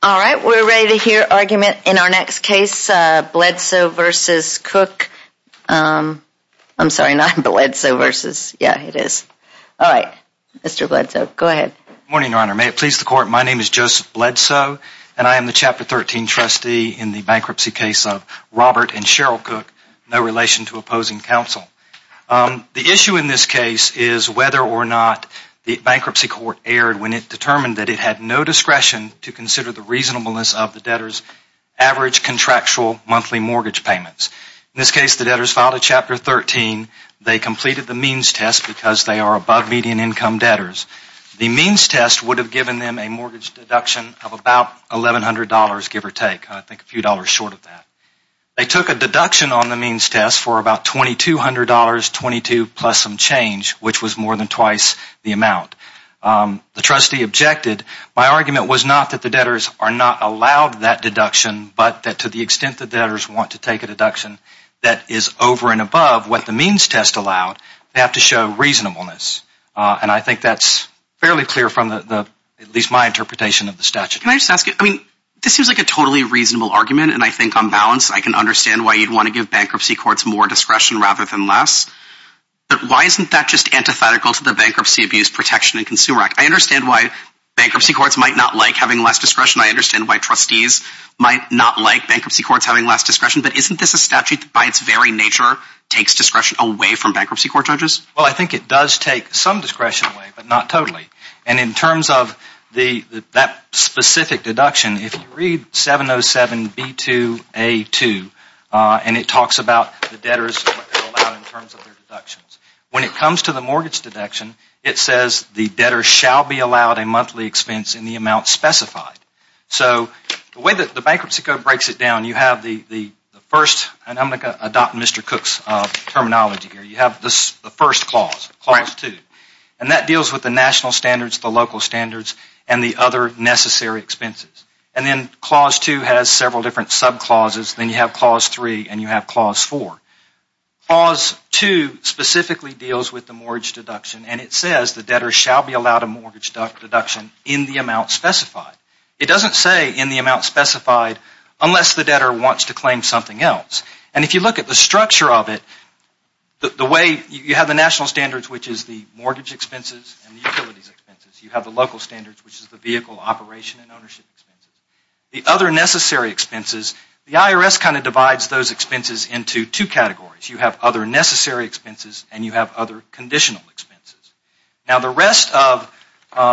All right, we're ready to hear argument in our next case Bledsoe versus Cook I'm sorry, not Bledsoe versus. Yeah, it is. All right, Mr. Bledsoe. Go ahead morning, Your Honor May it please the court? My name is Joseph Bledsoe and I am the chapter 13 trustee in the bankruptcy case of Robert and Cheryl Cook No relation to opposing counsel The issue in this case is whether or not the bankruptcy court erred when it determined that it had no discretion To consider the reasonableness of the debtors average contractual monthly mortgage payments in this case the debtors filed a chapter 13 They completed the means test because they are above median income debtors The means test would have given them a mortgage deduction of about eleven hundred dollars give or take I think a few dollars short of that They took a deduction on the means test for about twenty two hundred dollars twenty two plus some change which was more than twice the amount The trustee objected my argument was not that the debtors are not allowed that deduction But that to the extent the debtors want to take a deduction That is over and above what the means test allowed they have to show reasonableness And I think that's fairly clear from the at least my interpretation of the statute Can I just ask you I mean this seems like a totally reasonable argument and I think on balance I can understand why you'd want To give bankruptcy courts more discretion rather than less But why isn't that just antithetical to the Bankruptcy Abuse Protection and Consumer Act I understand why Bankruptcy courts might not like having less discretion I understand why trustees might not like bankruptcy courts having less discretion But isn't this a statute by its very nature takes discretion away from bankruptcy court judges well I think it does take some discretion away But not totally and in terms of the that specific deduction if you read 707 b2 a2 And it talks about the debtors When it comes to the mortgage deduction It says the debtor shall be allowed a monthly expense in the amount specified So the way that the bankruptcy code breaks it down you have the the first and I'm gonna adopt mr. Cook's Terminology here you have this the first clause To and that deals with the national standards the local standards and the other Necessary expenses and then clause 2 has several different sub clauses then you have clause 3 and you have clause 4 Clause 2 Specifically deals with the mortgage deduction and it says the debtor shall be allowed a mortgage deduction in the amount specified It doesn't say in the amount specified unless the debtor wants to claim something else and if you look at the structure of it The way you have the national standards, which is the mortgage expenses and utilities expenses you have the local standards Which is the vehicle operation and ownership? The other necessary expenses the IRS kind of divides those expenses into two categories You have other necessary expenses and you have other conditional expenses now the rest of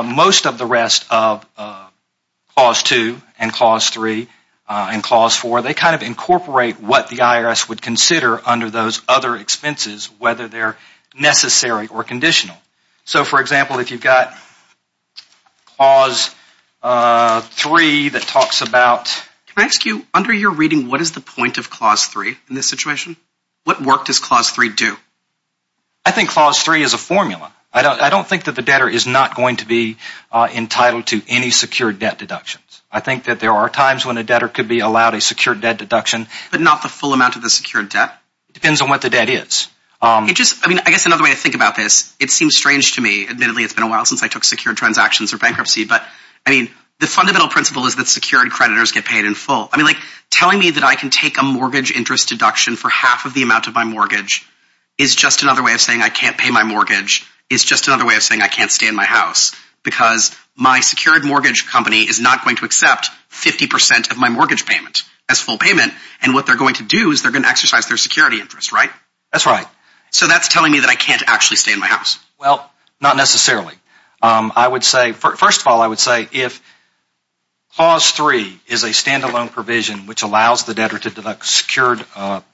most of the rest of Clause 2 and clause 3 And clause 4 they kind of incorporate what the IRS would consider under those other expenses whether they're Necessary or conditional so for example if you've got clause 3 that talks about Rescue under your reading. What is the point of clause 3 in this situation? What work does clause 3 do I? Think clause 3 is a formula. I don't think that the debtor is not going to be Entitled to any secured debt deductions I think that there are times when a debtor could be allowed a secured debt deduction But not the full amount of the secured debt depends on what the debt is It just I mean I guess another way to think about this it seems strange to me admittedly It's been a while since I took secured transactions or bankruptcy But I mean the fundamental principle is that secured creditors get paid in full I mean like telling me that I can take a mortgage interest deduction for half of the amount of my mortgage is Just another way of saying I can't pay my mortgage It's just another way of saying I can't stay in my house because my secured mortgage company is not going to accept 50% of my mortgage payment as full payment and what they're going to do is they're gonna exercise their security interest right that's right So that's telling me that I can't actually stay in my house well not necessarily I would say first of all I would say if Clause 3 is a standalone provision which allows the debtor to deduct secured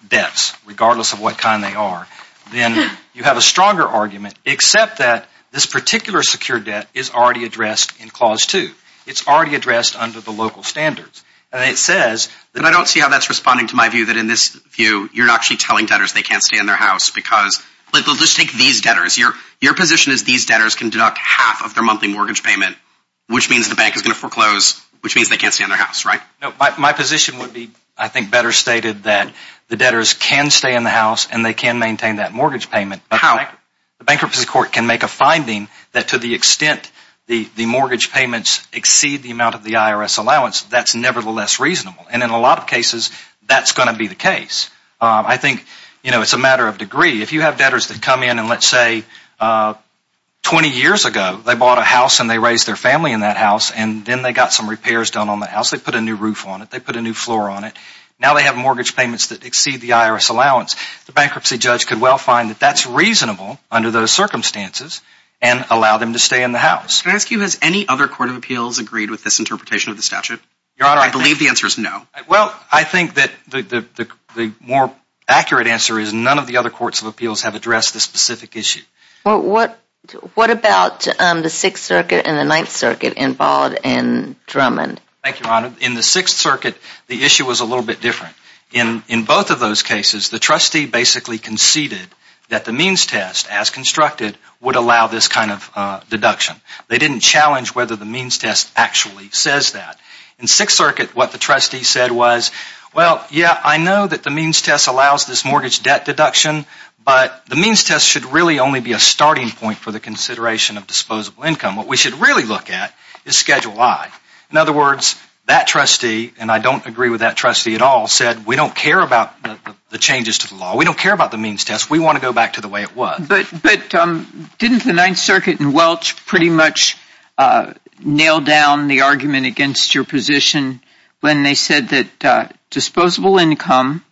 debts regardless of what kind they are Then you have a stronger argument except that this particular secured debt is already addressed in clause 2 It's already addressed under the local standards And it says that I don't see how that's responding to my view that in this view You're actually telling debtors They can't stay in their house because but they'll just take these debtors your your position is these debtors can deduct half of their monthly mortgage Payment which means the bank is gonna foreclose which means they can't stay in their house right my position would be I think better Stated that the debtors can stay in the house, and they can maintain that mortgage payment But how the bankruptcy court can make a finding that to the extent the the mortgage payments exceed the amount of the IRS allowance That's nevertheless reasonable and in a lot of cases That's gonna be the case. I think you know it's a matter of degree if you have debtors that come in and let's say 20 years ago, they bought a house, and they raised their family in that house And then they got some repairs done on the house they put a new roof on it They put a new floor on it now They have mortgage payments that exceed the IRS allowance the bankruptcy judge could well find that that's reasonable under those Circumstances and allow them to stay in the house Can I ask you has any other Court of Appeals agreed with this interpretation of the statute your honor? I believe the answer is no well I think that the the more accurate answer is none of the other Courts of Appeals have addressed the specific issue What what about the Sixth Circuit and the Ninth Circuit involved in Drummond? Thank you honor in the Sixth Circuit the issue was a little bit different in in both of those cases the trustee basically Conceded that the means test as constructed would allow this kind of deduction They didn't challenge whether the means test actually says that in Sixth Circuit what the trustee said was well Yeah I know that the means test allows this mortgage debt deduction But the means test should really only be a starting point for the consideration of disposable income what we should really look at is Schedule I in other words that trustee And I don't agree with that trustee at all said we don't care about the changes to the law We don't care about the means test we want to go back to the way it was but but Didn't the Ninth Circuit and Welch pretty much nailed down the argument against your position when they said that disposable income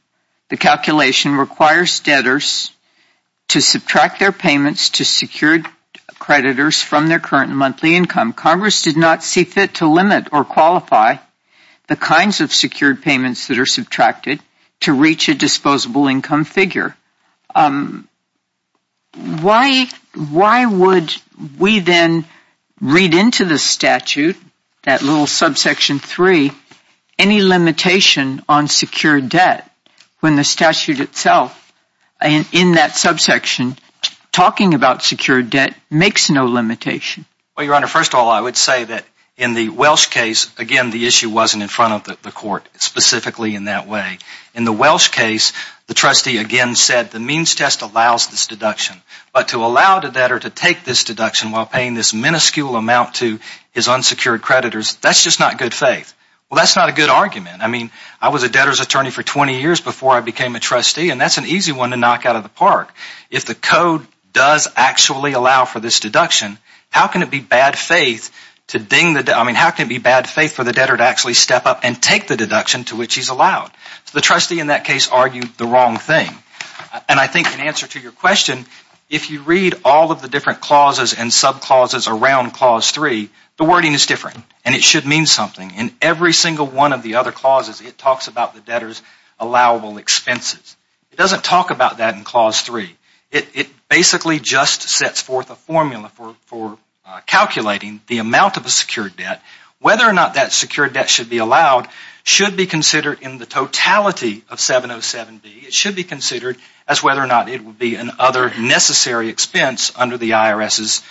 the calculation requires debtors to subtract their payments to secured Creditors from their current monthly income Congress did not see fit to limit or qualify The kinds of secured payments that are subtracted to reach a disposable income figure Why Why would we then Read into the statute that little subsection three any limitation on secured debt when the statute itself and in that subsection Talking about secured debt makes no limitation. Well your honor first all I would say that in the Welsh case again The issue wasn't in front of the court Specifically in that way in the Welsh case the trustee again said the means test allows this deduction But to allow the debtor to take this deduction while paying this minuscule amount to his unsecured creditors That's just not good faith. Well. That's not a good argument I mean I was a debtors attorney for 20 years before I became a trustee and that's an easy one to knock out of the Park if the code does actually allow for this deduction How can it be bad faith? To ding that I mean how can it be bad faith for the debtor to actually step up and take the deduction to which he's Allowed the trustee in that case argued the wrong thing And I think an answer to your question if you read all of the different clauses and sub clauses around clause 3 The wording is different and it should mean something in every single one of the other clauses it talks about the debtors allowable expenses it doesn't talk about that in clause 3 it basically just sets forth a formula for for amount of a secured debt whether or not that secured debt should be allowed should be considered in the Totality of 707 B. It should be considered as whether or not it would be an other necessary expense under the IRS's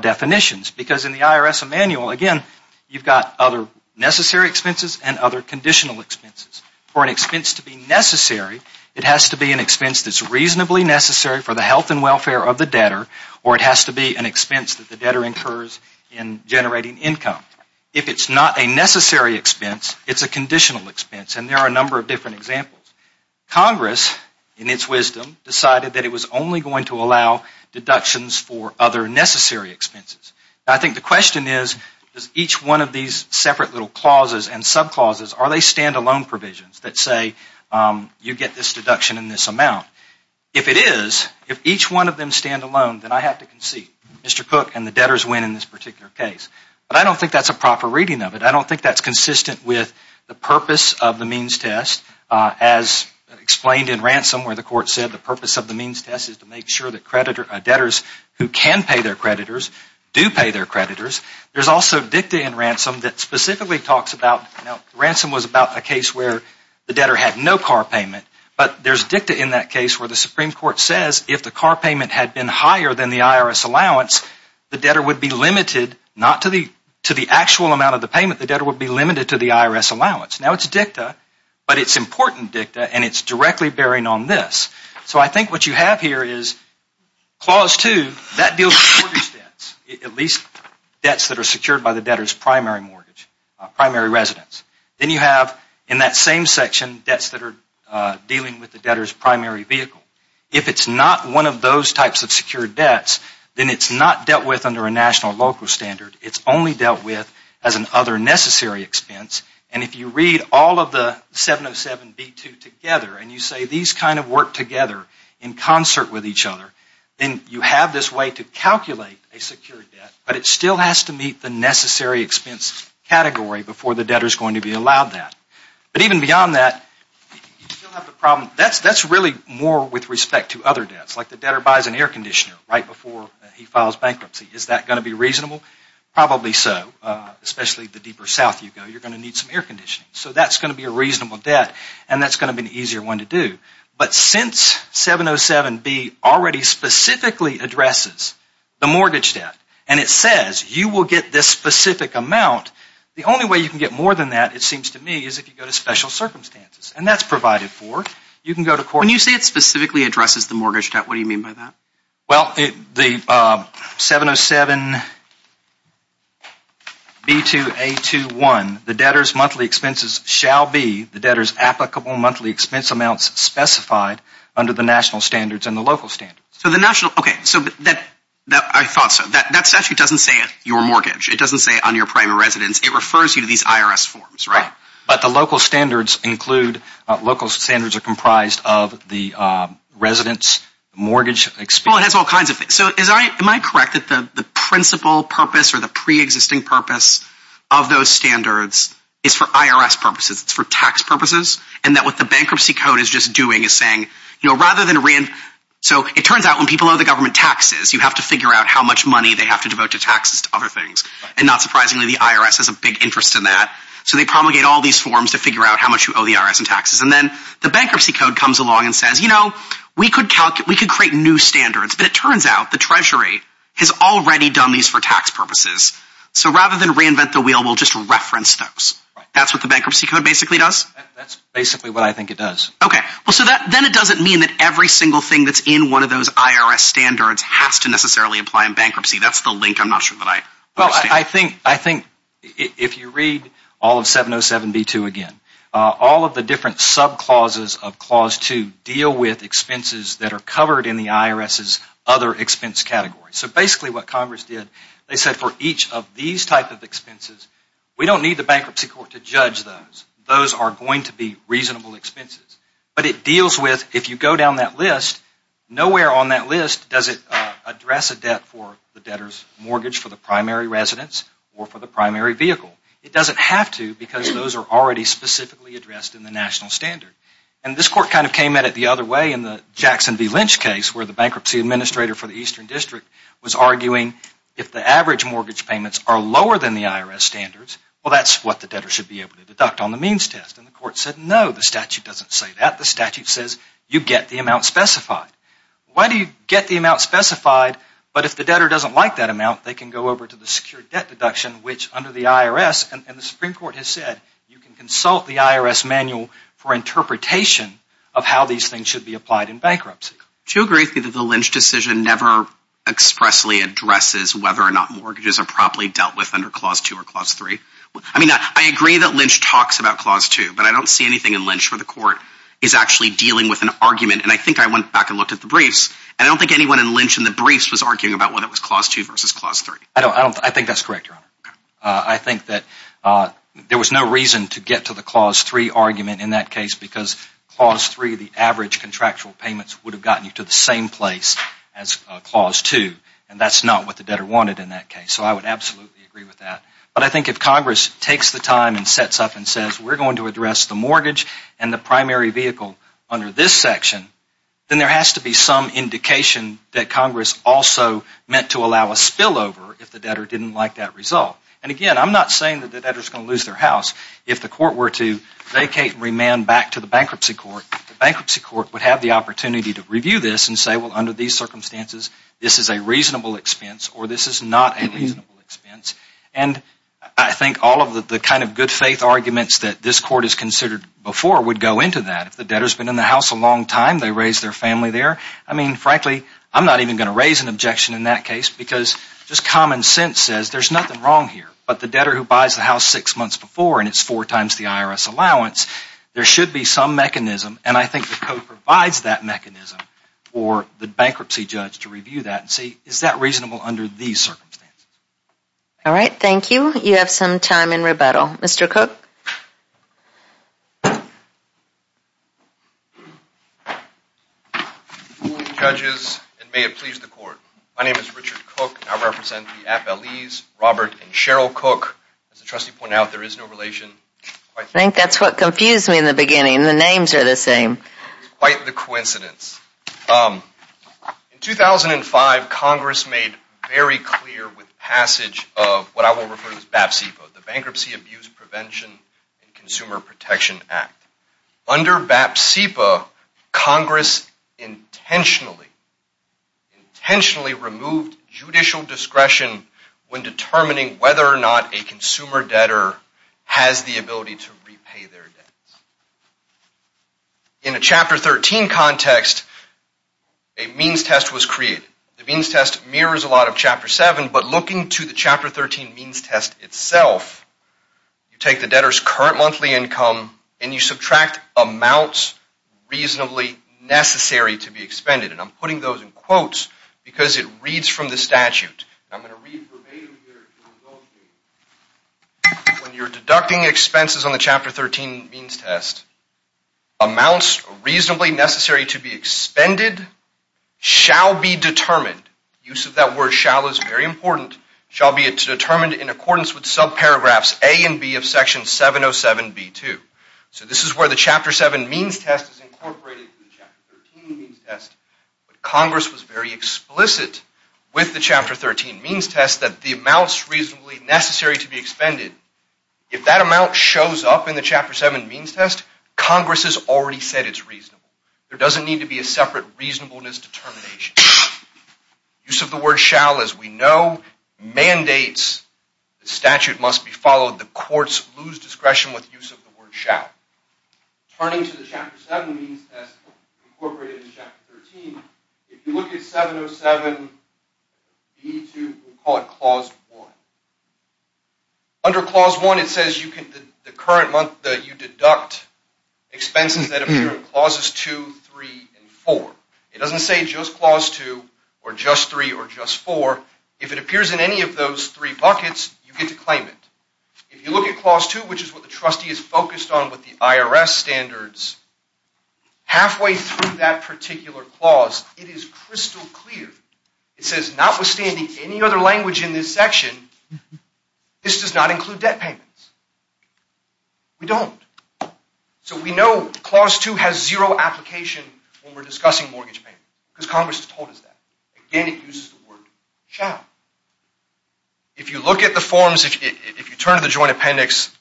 Definitions because in the IRS a manual again You've got other necessary expenses and other conditional expenses for an expense to be necessary It has to be an expense that's reasonably necessary for the health and welfare of the debtor or it has to be an expense that the debtor incurs in Generating income if it's not a necessary expense. It's a conditional expense and there are a number of different examples Congress in its wisdom decided that it was only going to allow Deductions for other necessary expenses I think the question is does each one of these separate little clauses and sub clauses are they standalone provisions that say You get this deduction in this amount if it is if each one of them stand alone that I have to concede Mr.. Cook and the debtors win in this particular case, but I don't think that's a proper reading of it I don't think that's consistent with the purpose of the means test as Explained in ransom where the court said the purpose of the means test is to make sure that creditor debtors who can pay their creditors Do pay their creditors? There's also dicta in ransom that specifically talks about now ransom was about a case where the debtor had no car payment But there's dicta in that case where the Supreme Court says if the car payment had been higher than the IRS allowance The debtor would be limited not to the to the actual amount of the payment the debtor would be limited to the IRS allowance now It's dicta, but it's important dicta, and it's directly bearing on this so I think what you have here is Clause two that deals At least debts that are secured by the debtors primary mortgage Primary residence, then you have in that same section debts that are Dealing with the debtors primary vehicle if it's not one of those types of secured debts Then it's not dealt with under a national local standard it's only dealt with as an other necessary expense, and if you read all of the 707 b2 together and you say these kind of work together in Concert with each other then you have this way to calculate a secured debt But it still has to meet the necessary expense category before the debtor is going to be allowed that but even beyond that That's that's really more with respect to other debts like the debtor buys an air conditioner right before he files bankruptcy is that going to be reasonable Probably so especially the deeper south you go you're going to need some air conditioning So that's going to be a reasonable debt, and that's going to be an easier one to do but since 707 be already Specifically addresses the mortgage debt, and it says you will get this specific amount The only way you can get more than that it seems to me is if you go to special circumstances And that's provided for you can go to court when you say it specifically addresses the mortgage debt. What do you mean by that? well the 707 B to a to one the debtors monthly expenses shall be the debtors applicable monthly expense amounts Specified under the national standards and the local standard so the national okay, so but that that I thought so that that's actually doesn't say It your mortgage. It doesn't say on your primary residence It refers you to these IRS forms right but the local standards include local standards are comprised of the Residents mortgage expel it has all kinds of so is I am I correct that the the principal purpose or the pre-existing purpose of Those standards is for IRS purposes It's for tax purposes and that what the bankruptcy code is just doing is saying you know rather than a ran So it turns out when people know the government taxes you have to figure out how much money they have to devote to taxes to other things and not surprisingly the IRS has a big interest in that so they promulgate all these forms to figure out how much you owe The IRS and taxes and then the bankruptcy code comes along and says you know we could count it We could create new standards, but it turns out the Treasury has already done these for tax purposes So rather than reinvent the wheel we'll just reference those that's what the bankruptcy code basically does That's basically what I think it does okay well so that then it doesn't mean that every single thing That's in one of those IRS standards has to necessarily apply in bankruptcy. That's the link. I'm not sure that I well I think I think if you read all of 707 b2 again All of the different sub clauses of clause to deal with expenses that are covered in the IRS's other expense category So basically what Congress did they said for each of these type of expenses? We don't need the bankruptcy court to judge those those are going to be reasonable expenses But it deals with if you go down that list Nowhere on that list does it address a debt for the debtors mortgage for the primary residence or for the primary vehicle? It doesn't have to because those are already Specifically addressed in the national standard and this court kind of came at it the other way in the Jackson V Lynch case where the bankruptcy Administrator for the Eastern District was arguing if the average mortgage payments are lower than the IRS standards Well, that's what the debtor should be able to deduct on the means test and the court said no the statute doesn't say that the statute Says you get the amount specified Why do you get the amount specified? but if the debtor doesn't like that amount they can go over to the secure debt deduction which under the IRS and the Supreme Court Has said you can consult the IRS manual for interpretation of how these things should be applied in bankruptcy To agree with me that the Lynch decision never Expressly addresses whether or not mortgages are properly dealt with under clause 2 or clause 3 I mean I agree that Lynch talks about clause 2 But I don't see anything in Lynch for the court is actually dealing with an argument And I think I went back and looked at the briefs And I don't think anyone in Lynch and the briefs was arguing about what it was clause 2 versus clause 3 I don't I think that's correct your honor. I think that There was no reason to get to the clause 3 argument in that case because clause 3 the average Contractual payments would have gotten you to the same place as clause 2 and that's not what the debtor wanted in that case So I would absolutely agree with that but I think if Congress takes the time and sets up and says we're going to address the mortgage and the primary vehicle under this section Then there has to be some Indication that Congress also meant to allow a spillover if the debtor didn't like that result and again I'm not saying that the debtors gonna lose their house if the court were to Vacate remand back to the bankruptcy court the bankruptcy court would have the opportunity to review this and say well under these circumstances This is a reasonable expense, or this is not a reasonable expense And I think all of the kind of good faith arguments that this court is considered Before would go into that if the debtors been in the house a long time they raised their family there I mean frankly I'm not even going to raise an objection in that case because just common sense says there's nothing wrong here But the debtor who buys the house six months before and it's four times the IRS allowance There should be some mechanism And I think the code provides that mechanism for the bankruptcy judge to review that and see is that reasonable under these circumstances All right, thank you. You have some time in rebuttal mr.. Cook Judges and may it please the court. My name is Richard cook. I represent the app Elyse Robert and Cheryl cook as the trustee point out There is no relation. I think that's what confused me in the beginning the names are the same quite the coincidence In 2005 Congress made very clear with passage of what I will refer to as BAPC for the bankruptcy abuse prevention Consumer Protection Act Under BAP CEPA Congress intentionally Intentionally removed judicial discretion when determining whether or not a consumer debtor has the ability to repay their debt In a chapter 13 context a Means test was created the means test mirrors a lot of chapter 7, but looking to the chapter 13 means test itself You take the debtors current monthly income and you subtract amounts Reasonably necessary to be expended, and I'm putting those in quotes because it reads from the statute When you're deducting expenses on the chapter 13 means test amounts reasonably necessary to be expended Shall be determined use of that word shall is very important shall be it's determined in accordance with subparagraphs a and b of section 707 b2 So this is where the chapter 7 means test is incorporated Congress was very explicit With the chapter 13 means test that the amounts reasonably necessary to be expended If that amount shows up in the chapter 7 means test Congress has already said it's reasonable. There doesn't need to be a separate reasonableness determination Use of the word shall as we know Mandates the statute must be followed the courts lose discretion with use of the word shall Turning to the chapter 7 means test incorporated in chapter 13 If you look at 707 b2 we'll call it clause 1 Under clause 1 it says you can the current month that you deduct Expenses that appear in clauses 2 3 and 4 it doesn't say just clause 2 or just 3 or just 4 if it appears in Any of those three buckets you get to claim it if you look at clause 2 which is what the trustee is focused on with? the IRS standards Halfway through that particular clause it is crystal clear. It says notwithstanding any other language in this section This does not include debt payments We don't So we know clause 2 has zero application when we're discussing mortgage payment because Congress has told us that again it uses the word shall If you look at the forms if you turn to the joint appendix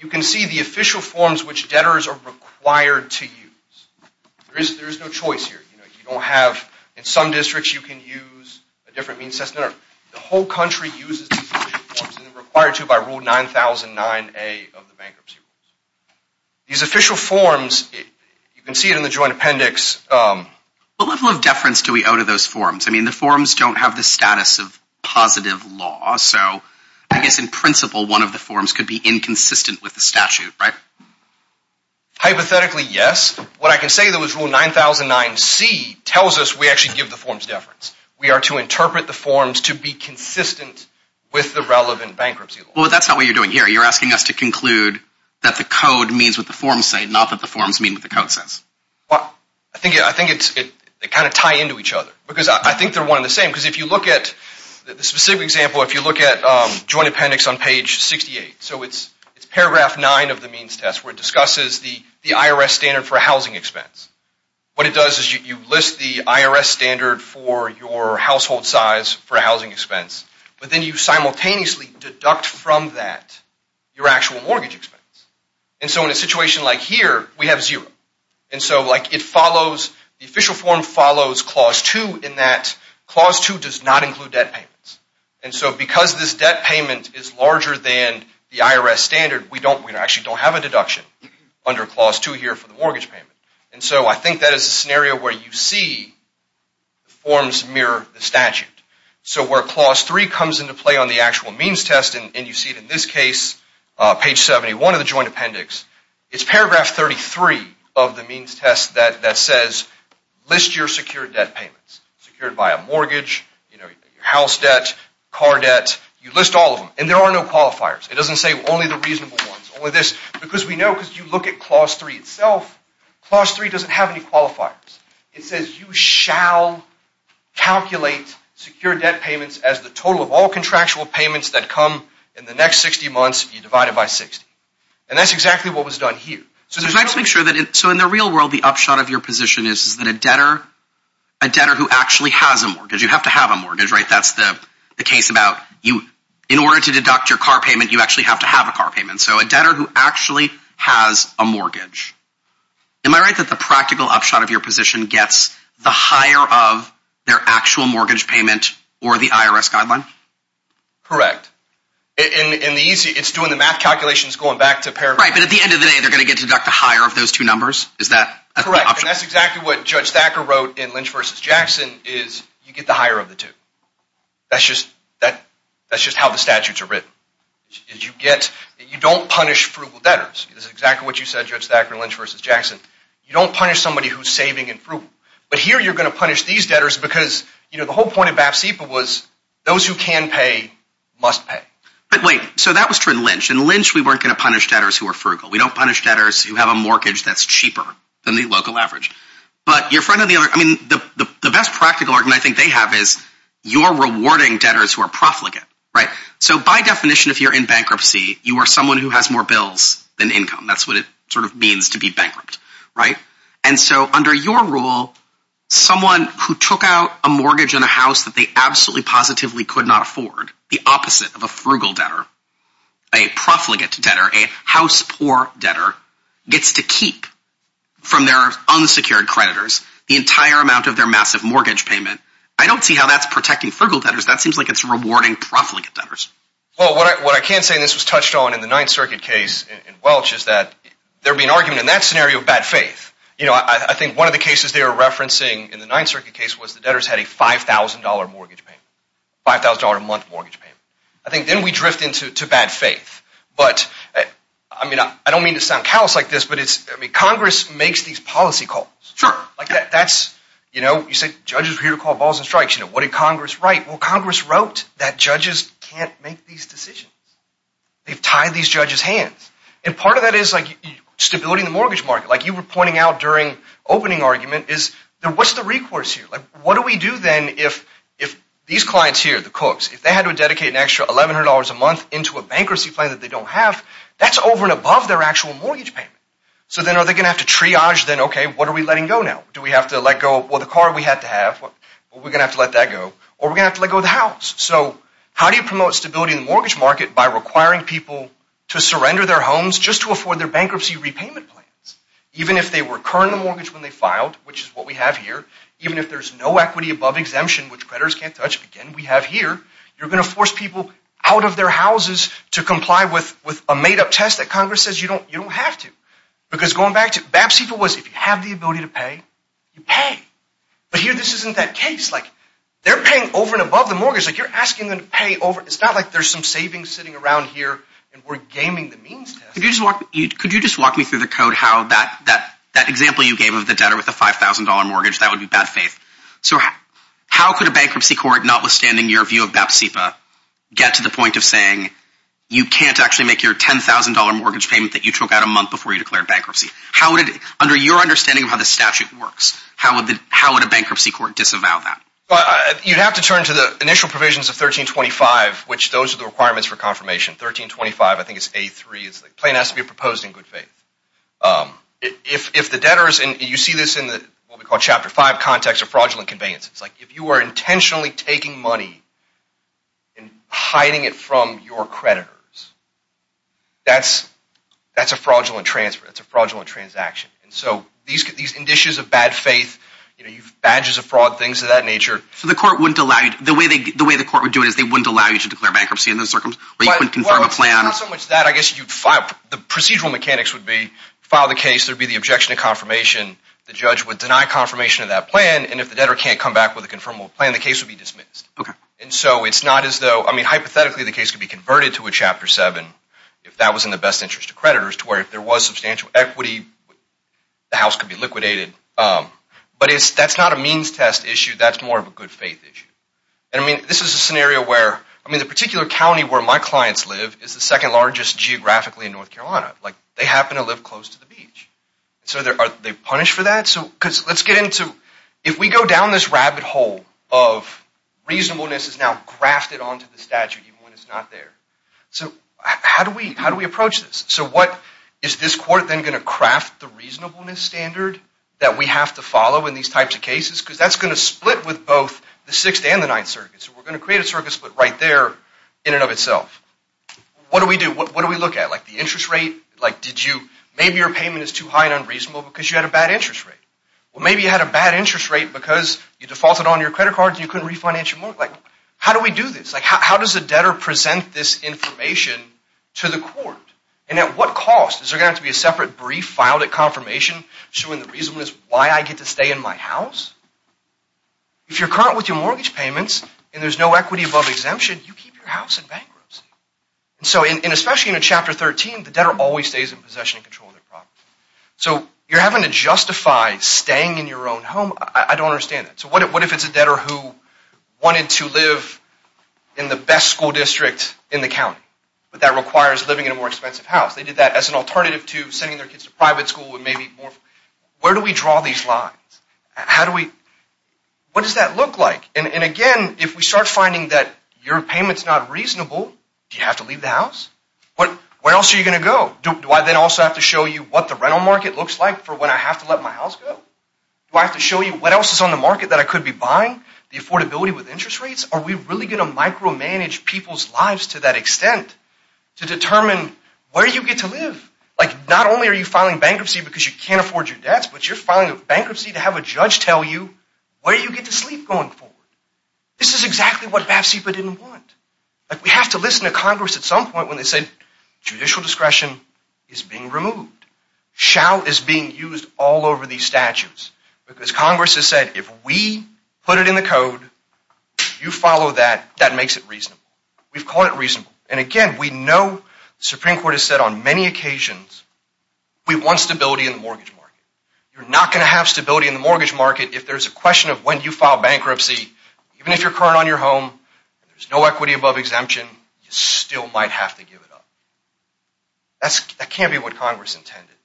You can see the official forms which debtors are required to use There is there is no choice here. You don't have in some districts. You can use a different means test No, the whole country uses required to buy rule 9009 a of the bankruptcy rules These official forms you can see it in the joint appendix What level of deference do we owe to those forms? I mean the forms don't have the status of positive law So I guess in principle one of the forms could be inconsistent with the statute, right? Hypothetically, yes what I can say that was rule 9009 C tells us we actually give the forms deference We are to interpret the forms to be consistent with the relevant bankruptcy. Well, that's not what you're doing here You're asking us to conclude that the code means what the forms say not that the forms mean what the code says Well, I think I think it's it they kind of tie into each other because I think they're one in the same because if you look At the specific example if you look at joint appendix on page 68 So it's it's paragraph 9 of the means test where it discusses the the IRS standard for a housing expense What it does is you list the IRS standard for your household size for a housing expense But then you simultaneously deduct from that your actual mortgage expense and so in a situation like here We have zero and so like it follows the official form follows clause 2 in that Clause 2 does not include debt payments. And so because this debt payment is larger than the IRS standard We don't we actually don't have a deduction under clause 2 here for the mortgage payment. And so I think that is a scenario where you see Forms mirror the statute so where clause 3 comes into play on the actual means test and you see it in this case Page 71 of the joint appendix. It's paragraph 33 of the means test that that says List your secured debt payments secured by a mortgage, you know your house debt car debt You list all of them and there are no qualifiers It doesn't say only the reasonable ones or this because we know because you look at clause 3 itself Clause 3 doesn't have any qualifiers. It says you shall Calculate secure debt payments as the total of all contractual payments that come in the next 60 months You divide it by 60 and that's exactly what was done here So just make sure that it so in the real world the upshot of your position is is that a debtor a debtor? Who actually has a mortgage you have to have a mortgage, right? That's the the case about you in order to deduct your car payment. You actually have to have a car payment So a debtor who actually has a mortgage Am I right that the practical upshot of your position gets the higher of their actual mortgage payment or the IRS guideline? Correct in in the easy. It's doing the math calculations going back to pair, right? But at the end of the day, they're gonna get to deduct the higher of those two numbers. Is that correct? That's exactly what judge Thacker wrote in Lynch versus Jackson is you get the higher of the two That's just that that's just how the statutes are written Did you get you don't punish frugal debtors, this is exactly what you said judge Thacker Lynch versus Jackson You don't punish somebody who's saving in fruit But here you're gonna punish these debtors because you know, the whole point of BAFSA was those who can pay must pay But wait, so that was true in Lynch and Lynch. We weren't gonna punish debtors who are frugal We don't punish debtors who have a mortgage that's cheaper than the local average But your friend on the other I mean the the best practical argument You're rewarding debtors who are profligate, right? So by definition if you're in bankruptcy, you are someone who has more bills than income That's what it sort of means to be bankrupt, right? And so under your rule someone who took out a mortgage in a house that they absolutely positively could not afford the opposite of a frugal debtor a profligate to debtor a house poor debtor gets to keep From their unsecured creditors the entire amount of their massive mortgage payment. I don't see how that's protecting frugal debtors That seems like it's rewarding profligate debtors Well, what I can't say this was touched on in the Ninth Circuit case in Welch is that there be an argument in that scenario? Bad faith, you know, I think one of the cases they were referencing in the Ninth Circuit case was the debtors had a $5,000 mortgage Pay $5,000 a month mortgage payment. I think then we drift into to bad faith But I mean, I don't mean to sound callous like this, but it's I mean Congress makes these policy calls Sure, like that that's you know, you said judges were here to call balls and strikes, you know, what did Congress write? Well Congress wrote that judges can't make these decisions they've tied these judges hands and part of that is like Stability in the mortgage market like you were pointing out during opening argument is there. What's the recourse here? like what do we do then if if Clients here the cooks if they had to dedicate an extra $1,100 a month into a bankruptcy plan that they don't have That's over and above their actual mortgage payment. So then are they gonna have to triage then? Okay. What are we letting go now? Do we have to let go? Well the car we had to have what we're gonna have to let that go or we have to let go of the house So, how do you promote stability in the mortgage market by requiring people to surrender their homes just to afford their bankruptcy repayment plans? Even if they were current the mortgage when they filed which is what we have here Even if there's no equity above exemption, which creditors can't touch again We have here you're gonna force people out of their houses to comply with with a made-up test that Congress says You don't you don't have to because going back to BAPC for was if you have the ability to pay you pay But here this isn't that case like they're paying over and above the mortgage like you're asking them to pay over It's not like there's some savings sitting around here and we're gaming the means If you just walk you could you just walk me through the code how that that that example you gave of the debtor with a $5,000 mortgage that would be bad faith. So how could a bankruptcy court notwithstanding your view of BAPCPA get to the point of saying? You can't actually make your $10,000 mortgage payment that you took out a month before you declared bankruptcy How would it under your understanding of how the statute works? How would the how would a bankruptcy court disavow that? But you'd have to turn to the initial provisions of 1325, which those are the requirements for confirmation 1325 I think it's a three is the plane has to be proposed in good faith If the debtors and you see this in the chapter 5 context of fraudulent conveyances, it's like if you were intentionally taking money and Hiding it from your creditors That's that's a fraudulent transfer. It's a fraudulent transaction. And so these could these conditions of bad faith You know, you've badges of fraud things of that nature So the court wouldn't allow you the way they the way the court would do it is they wouldn't allow you to declare bankruptcy in A plan that I guess you'd file the procedural mechanics would be file the case There'd be the objection to confirmation The judge would deny confirmation of that plan and if the debtor can't come back with a confirmable plan the case would be dismissed Okay And so it's not as though I mean hypothetically the case could be converted to a chapter 7 If that was in the best interest of creditors to where if there was substantial equity The house could be liquidated But it's that's not a means test issue. That's more of a good faith issue And I mean this is a scenario where I mean the particular County where my clients live is the second largest Geographically in North Carolina like they happen to live close to the beach so there are they punished for that so because let's get into if we go down this rabbit hole of Reasonableness is now grafted onto the statute even when it's not there. So how do we how do we approach this? So what is this court then going to craft the reasonableness standard? That we have to follow in these types of cases because that's going to split with both the 6th and the 9th circuit So we're going to create a circus, but right there in and of itself What do we do? What do we look at like the interest rate like did you maybe your payment is too high and unreasonable because you had a bad interest Rate well, maybe you had a bad interest rate because you defaulted on your credit cards You couldn't refinance your money like how do we do this? Like how does the debtor present this information to the court and at what cost is there going to be a separate brief? Confirmation Why I get to stay in my house If you're current with your mortgage payments, and there's no equity above exemption you keep your house in bankruptcy And so in especially in a chapter 13 the debtor always stays in possession control their property So you're having to justify staying in your own home. I don't understand it. So what if it's a debtor who? Wanted to live in the best school district in the county, but that requires living in a more expensive house They did that as an alternative to sending their kids to private school and maybe more. Where do we draw these lines? How do we? What does that look like and again if we start finding that your payments not reasonable? Do you have to leave the house? But where else are you gonna go do I then also have to show you what the rental market looks like for when I have? To let my house go Do I have to show you what else is on the market that I could be buying the affordability with interest rates? Are we really gonna micromanage people's lives to that extent? To determine where you get to live like not only are you filing bankruptcy because you can't afford your debts But you're filing a bankruptcy to have a judge. Tell you where you get to sleep going forward This is exactly what have SIPA didn't want like we have to listen to Congress at some point when they said Judicial discretion is being removed Shall is being used all over these statutes because Congress has said if we put it in the code You follow that that makes it reasonable. We've called it reasonable and again. We know the Supreme Court has said on many occasions We want stability in the mortgage market You're not going to have stability in the mortgage market if there's a question of when you file bankruptcy Even if you're current on your home, there's no equity above exemption. You still might have to give it up That's that can't be what Congress intended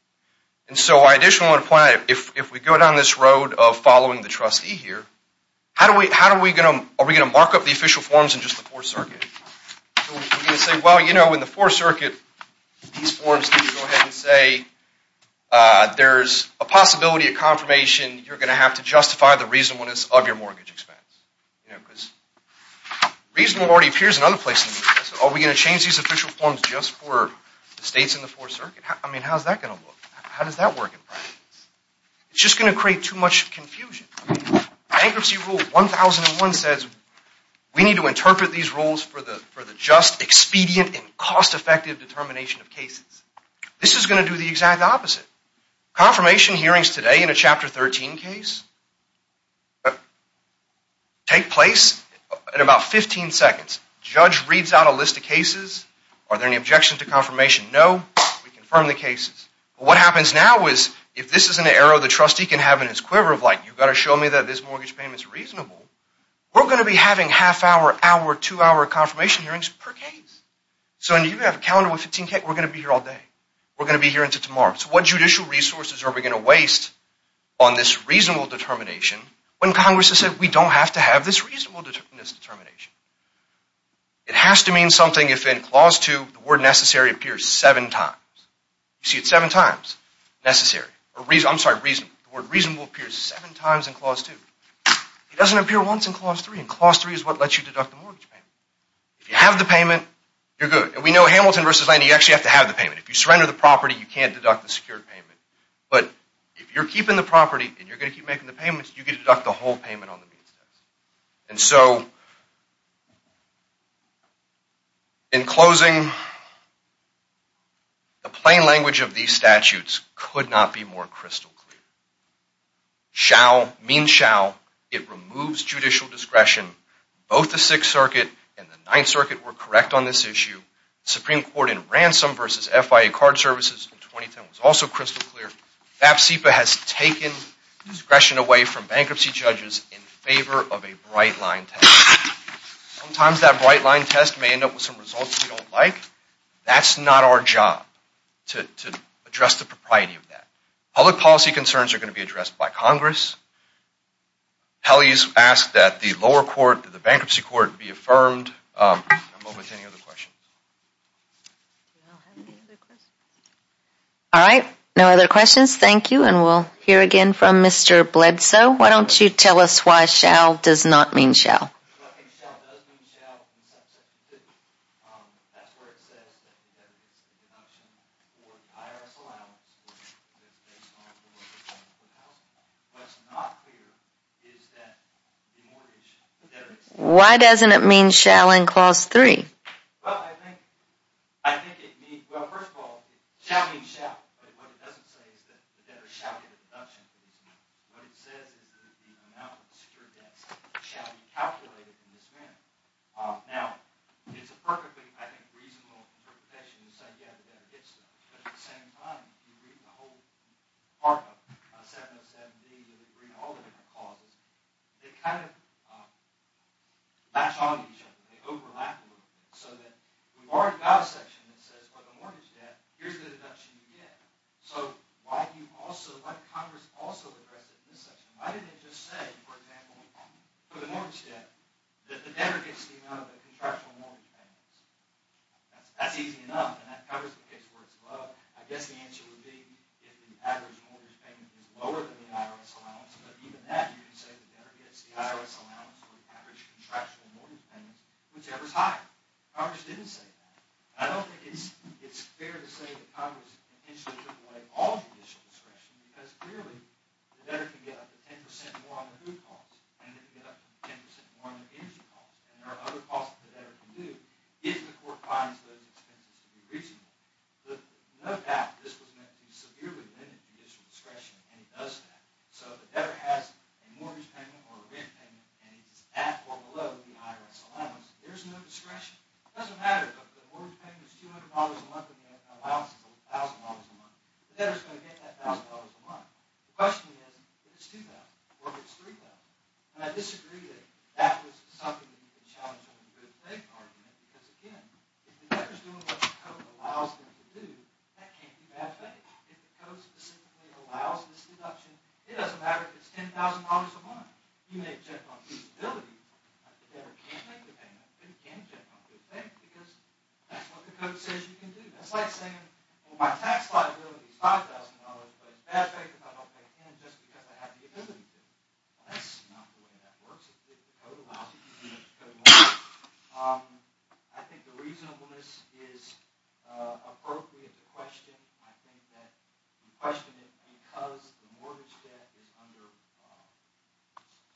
And so I additionally want to point out if we go down this road of following the trustee here How do we how do we get them are we gonna mark up the official forms in just the fourth circuit? Say well, you know in the fourth circuit these forms go ahead and say There's a possibility of confirmation. You're gonna have to justify the reasonableness of your mortgage expense Reasonable already appears in other places. Are we gonna change these official forms just for the states in the fourth circuit? I mean, how's that gonna look? How does that work? It's just gonna create too much confusion Bankruptcy rule 1001 says we need to interpret these rules for the for the just expedient and cost-effective determination of cases This is going to do the exact opposite confirmation hearings today in a chapter 13 case Take place in about 15 seconds judge reads out a list of cases. Are there any objections to confirmation? No, we confirm the cases What happens now is if this is an arrow the trustee can have in his quiver of like you've got to show me that this Mortgage payment is reasonable. We're going to be having half-hour hour two hour confirmation hearings per case So and you have a calendar with 15k we're gonna be here all day. We're gonna be here until tomorrow So what judicial resources are we gonna waste on this reasonable determination when Congress has said we don't have to have this reasonable It has to mean something if in clause 2 the word necessary appears seven times You see it seven times Necessary or reason I'm sorry reason the word reasonable appears seven times in clause 2 It doesn't appear once in clause 3 and clause 3 is what lets you deduct the mortgage If you have the payment, you're good And we know Hamilton versus land you actually have to have the payment if you surrender the property You can't deduct the secured payment but if you're keeping the property and you're gonna keep making the payments you get it up the whole payment on the means test and so In closing The plain language of these statutes could not be more crystal clear Shall mean shall it removes judicial discretion both the Sixth Circuit and the Ninth Circuit were correct on this issue Supreme Court in ransom versus FIA card services in 2010 was also crystal clear that SIPA has taken discretion away from bankruptcy judges in favor of a bright line test Sometimes that bright line test may end up with some results. We don't like that's not our job to Address the propriety of that public policy concerns are going to be addressed by Congress Pelley's asked that the lower court the bankruptcy court be affirmed All right, no other questions, thank you, and we'll hear again from mr. Bledsoe, why don't you tell us why shall does not mean shall Why doesn't it mean shall in clause 3 It says that the amount of secured debts shall be calculated in this manner. Now, it's a perfectly reasonable interpretation to say yeah the debtor gets them, but at the same time, if you read the whole arc of 707-D where they bring all the different clauses, they kind of Match on each other, they overlap a little bit, so that we've already got a section that says for the mortgage debt Here's the deduction you get. So why do you also, why did Congress also address it in this section? Why didn't it just say, for example, for the mortgage debt, that the debtor gets the amount of the contractual mortgage payments? That's easy enough, and that covers the case where it's above. I guess the answer would be if the average mortgage payment is lower than the IRS allowance But even that, you can say the debtor gets the IRS allowance for the average contractual mortgage payments, whichever is higher. Congress didn't say that. I don't think it's fair to say that Congress intentionally took away all judicial discretion, because clearly the debtor can get up to 10% more on their food costs And they can get up to 10% more on their energy costs, and there are other costs that the debtor can do, if the court finds those expenses to be reasonable. But no doubt this was meant to severely limit judicial discretion, and it does that. So if the debtor has a mortgage payment or a rent payment, and it's at or below the IRS allowance, there's no discretion. It doesn't matter if the mortgage payment is $200 a month and the IRS allowance is $1,000 a month. The debtor is going to get that $1,000 a month. The question is, if it's $2,000 or if it's $3,000. And I disagree that that was something that you could challenge in the good faith argument. Because again, if the debtor is doing what the code allows them to do, that can't be bad faith. If the code specifically allows this deduction, it doesn't matter if it's $10,000 a month. You may object on feasibility, but the debtor can't make the payment. They can't object on good faith, because that's what the code says you can do. That's like saying, well, my tax liability is $5,000, but it's bad faith if I don't pay it in just because I have the ability to. Well, that's not the way that works. If the code allows you to do it, the code won't. I think the reasonableness is appropriate to question. I think that you question it because the mortgage debt is under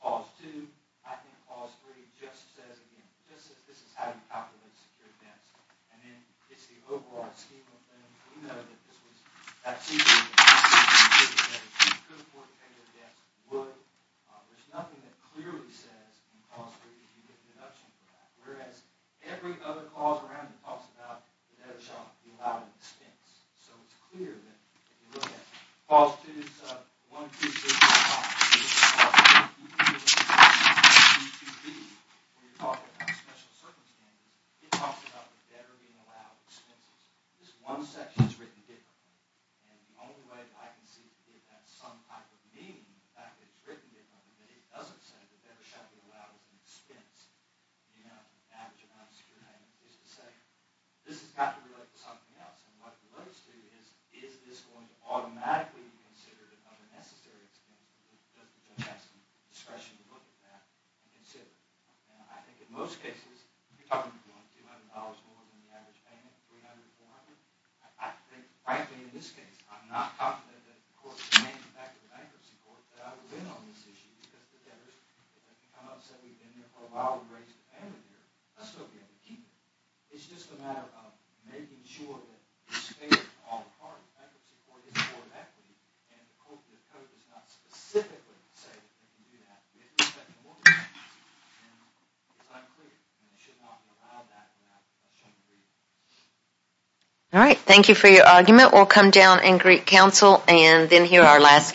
clause 2. I think clause 3 just says, again, this is how you calculate secured debts. And then it's the overall scheme of things. We know that this was that scheme of things. If you could afford to pay your debts, you would. There's nothing that clearly says in clause 3 that you get a deduction for that. Whereas every other clause around it talks about the debtor shall be allowed an expense. So it's clear that if you look at clause 2, sub 1, 2, 3, 4, 5, 6, clause 2, 2, 3, 4, 5, 6, 2, 2, 3, when you're talking about special circumstances, it talks about the debtor being allowed expenses. This one section is written differently. And the only way I can see that it has some type of meaning, the fact that it's written differently, that it doesn't say that the debtor shall be allowed an expense. You know, the average amount of secured payment is the same. This has got to relate to something else. And what it relates to is, is this going to automatically be considered an unnecessary expense? It doesn't have discretion to look at that and consider it. Now, I think in most cases, you're talking about going $200 more than the average payment, $300, $400. I think, frankly, in this case, I'm not confident that the court can get back to the bankruptcy court that I was in on this issue because the debtors have become upset. We've been there for a while. We've raised the family here. Let's go get it. Keep it. It's just a matter of making sure that the state of all parties, bankruptcy court, is more than equity. And the code does not specifically say that you can do that. It's unclear. And it should not be allowed that now. I shouldn't read it. All right. Thank you for your argument. We'll come down and greet counsel and then hear our last case.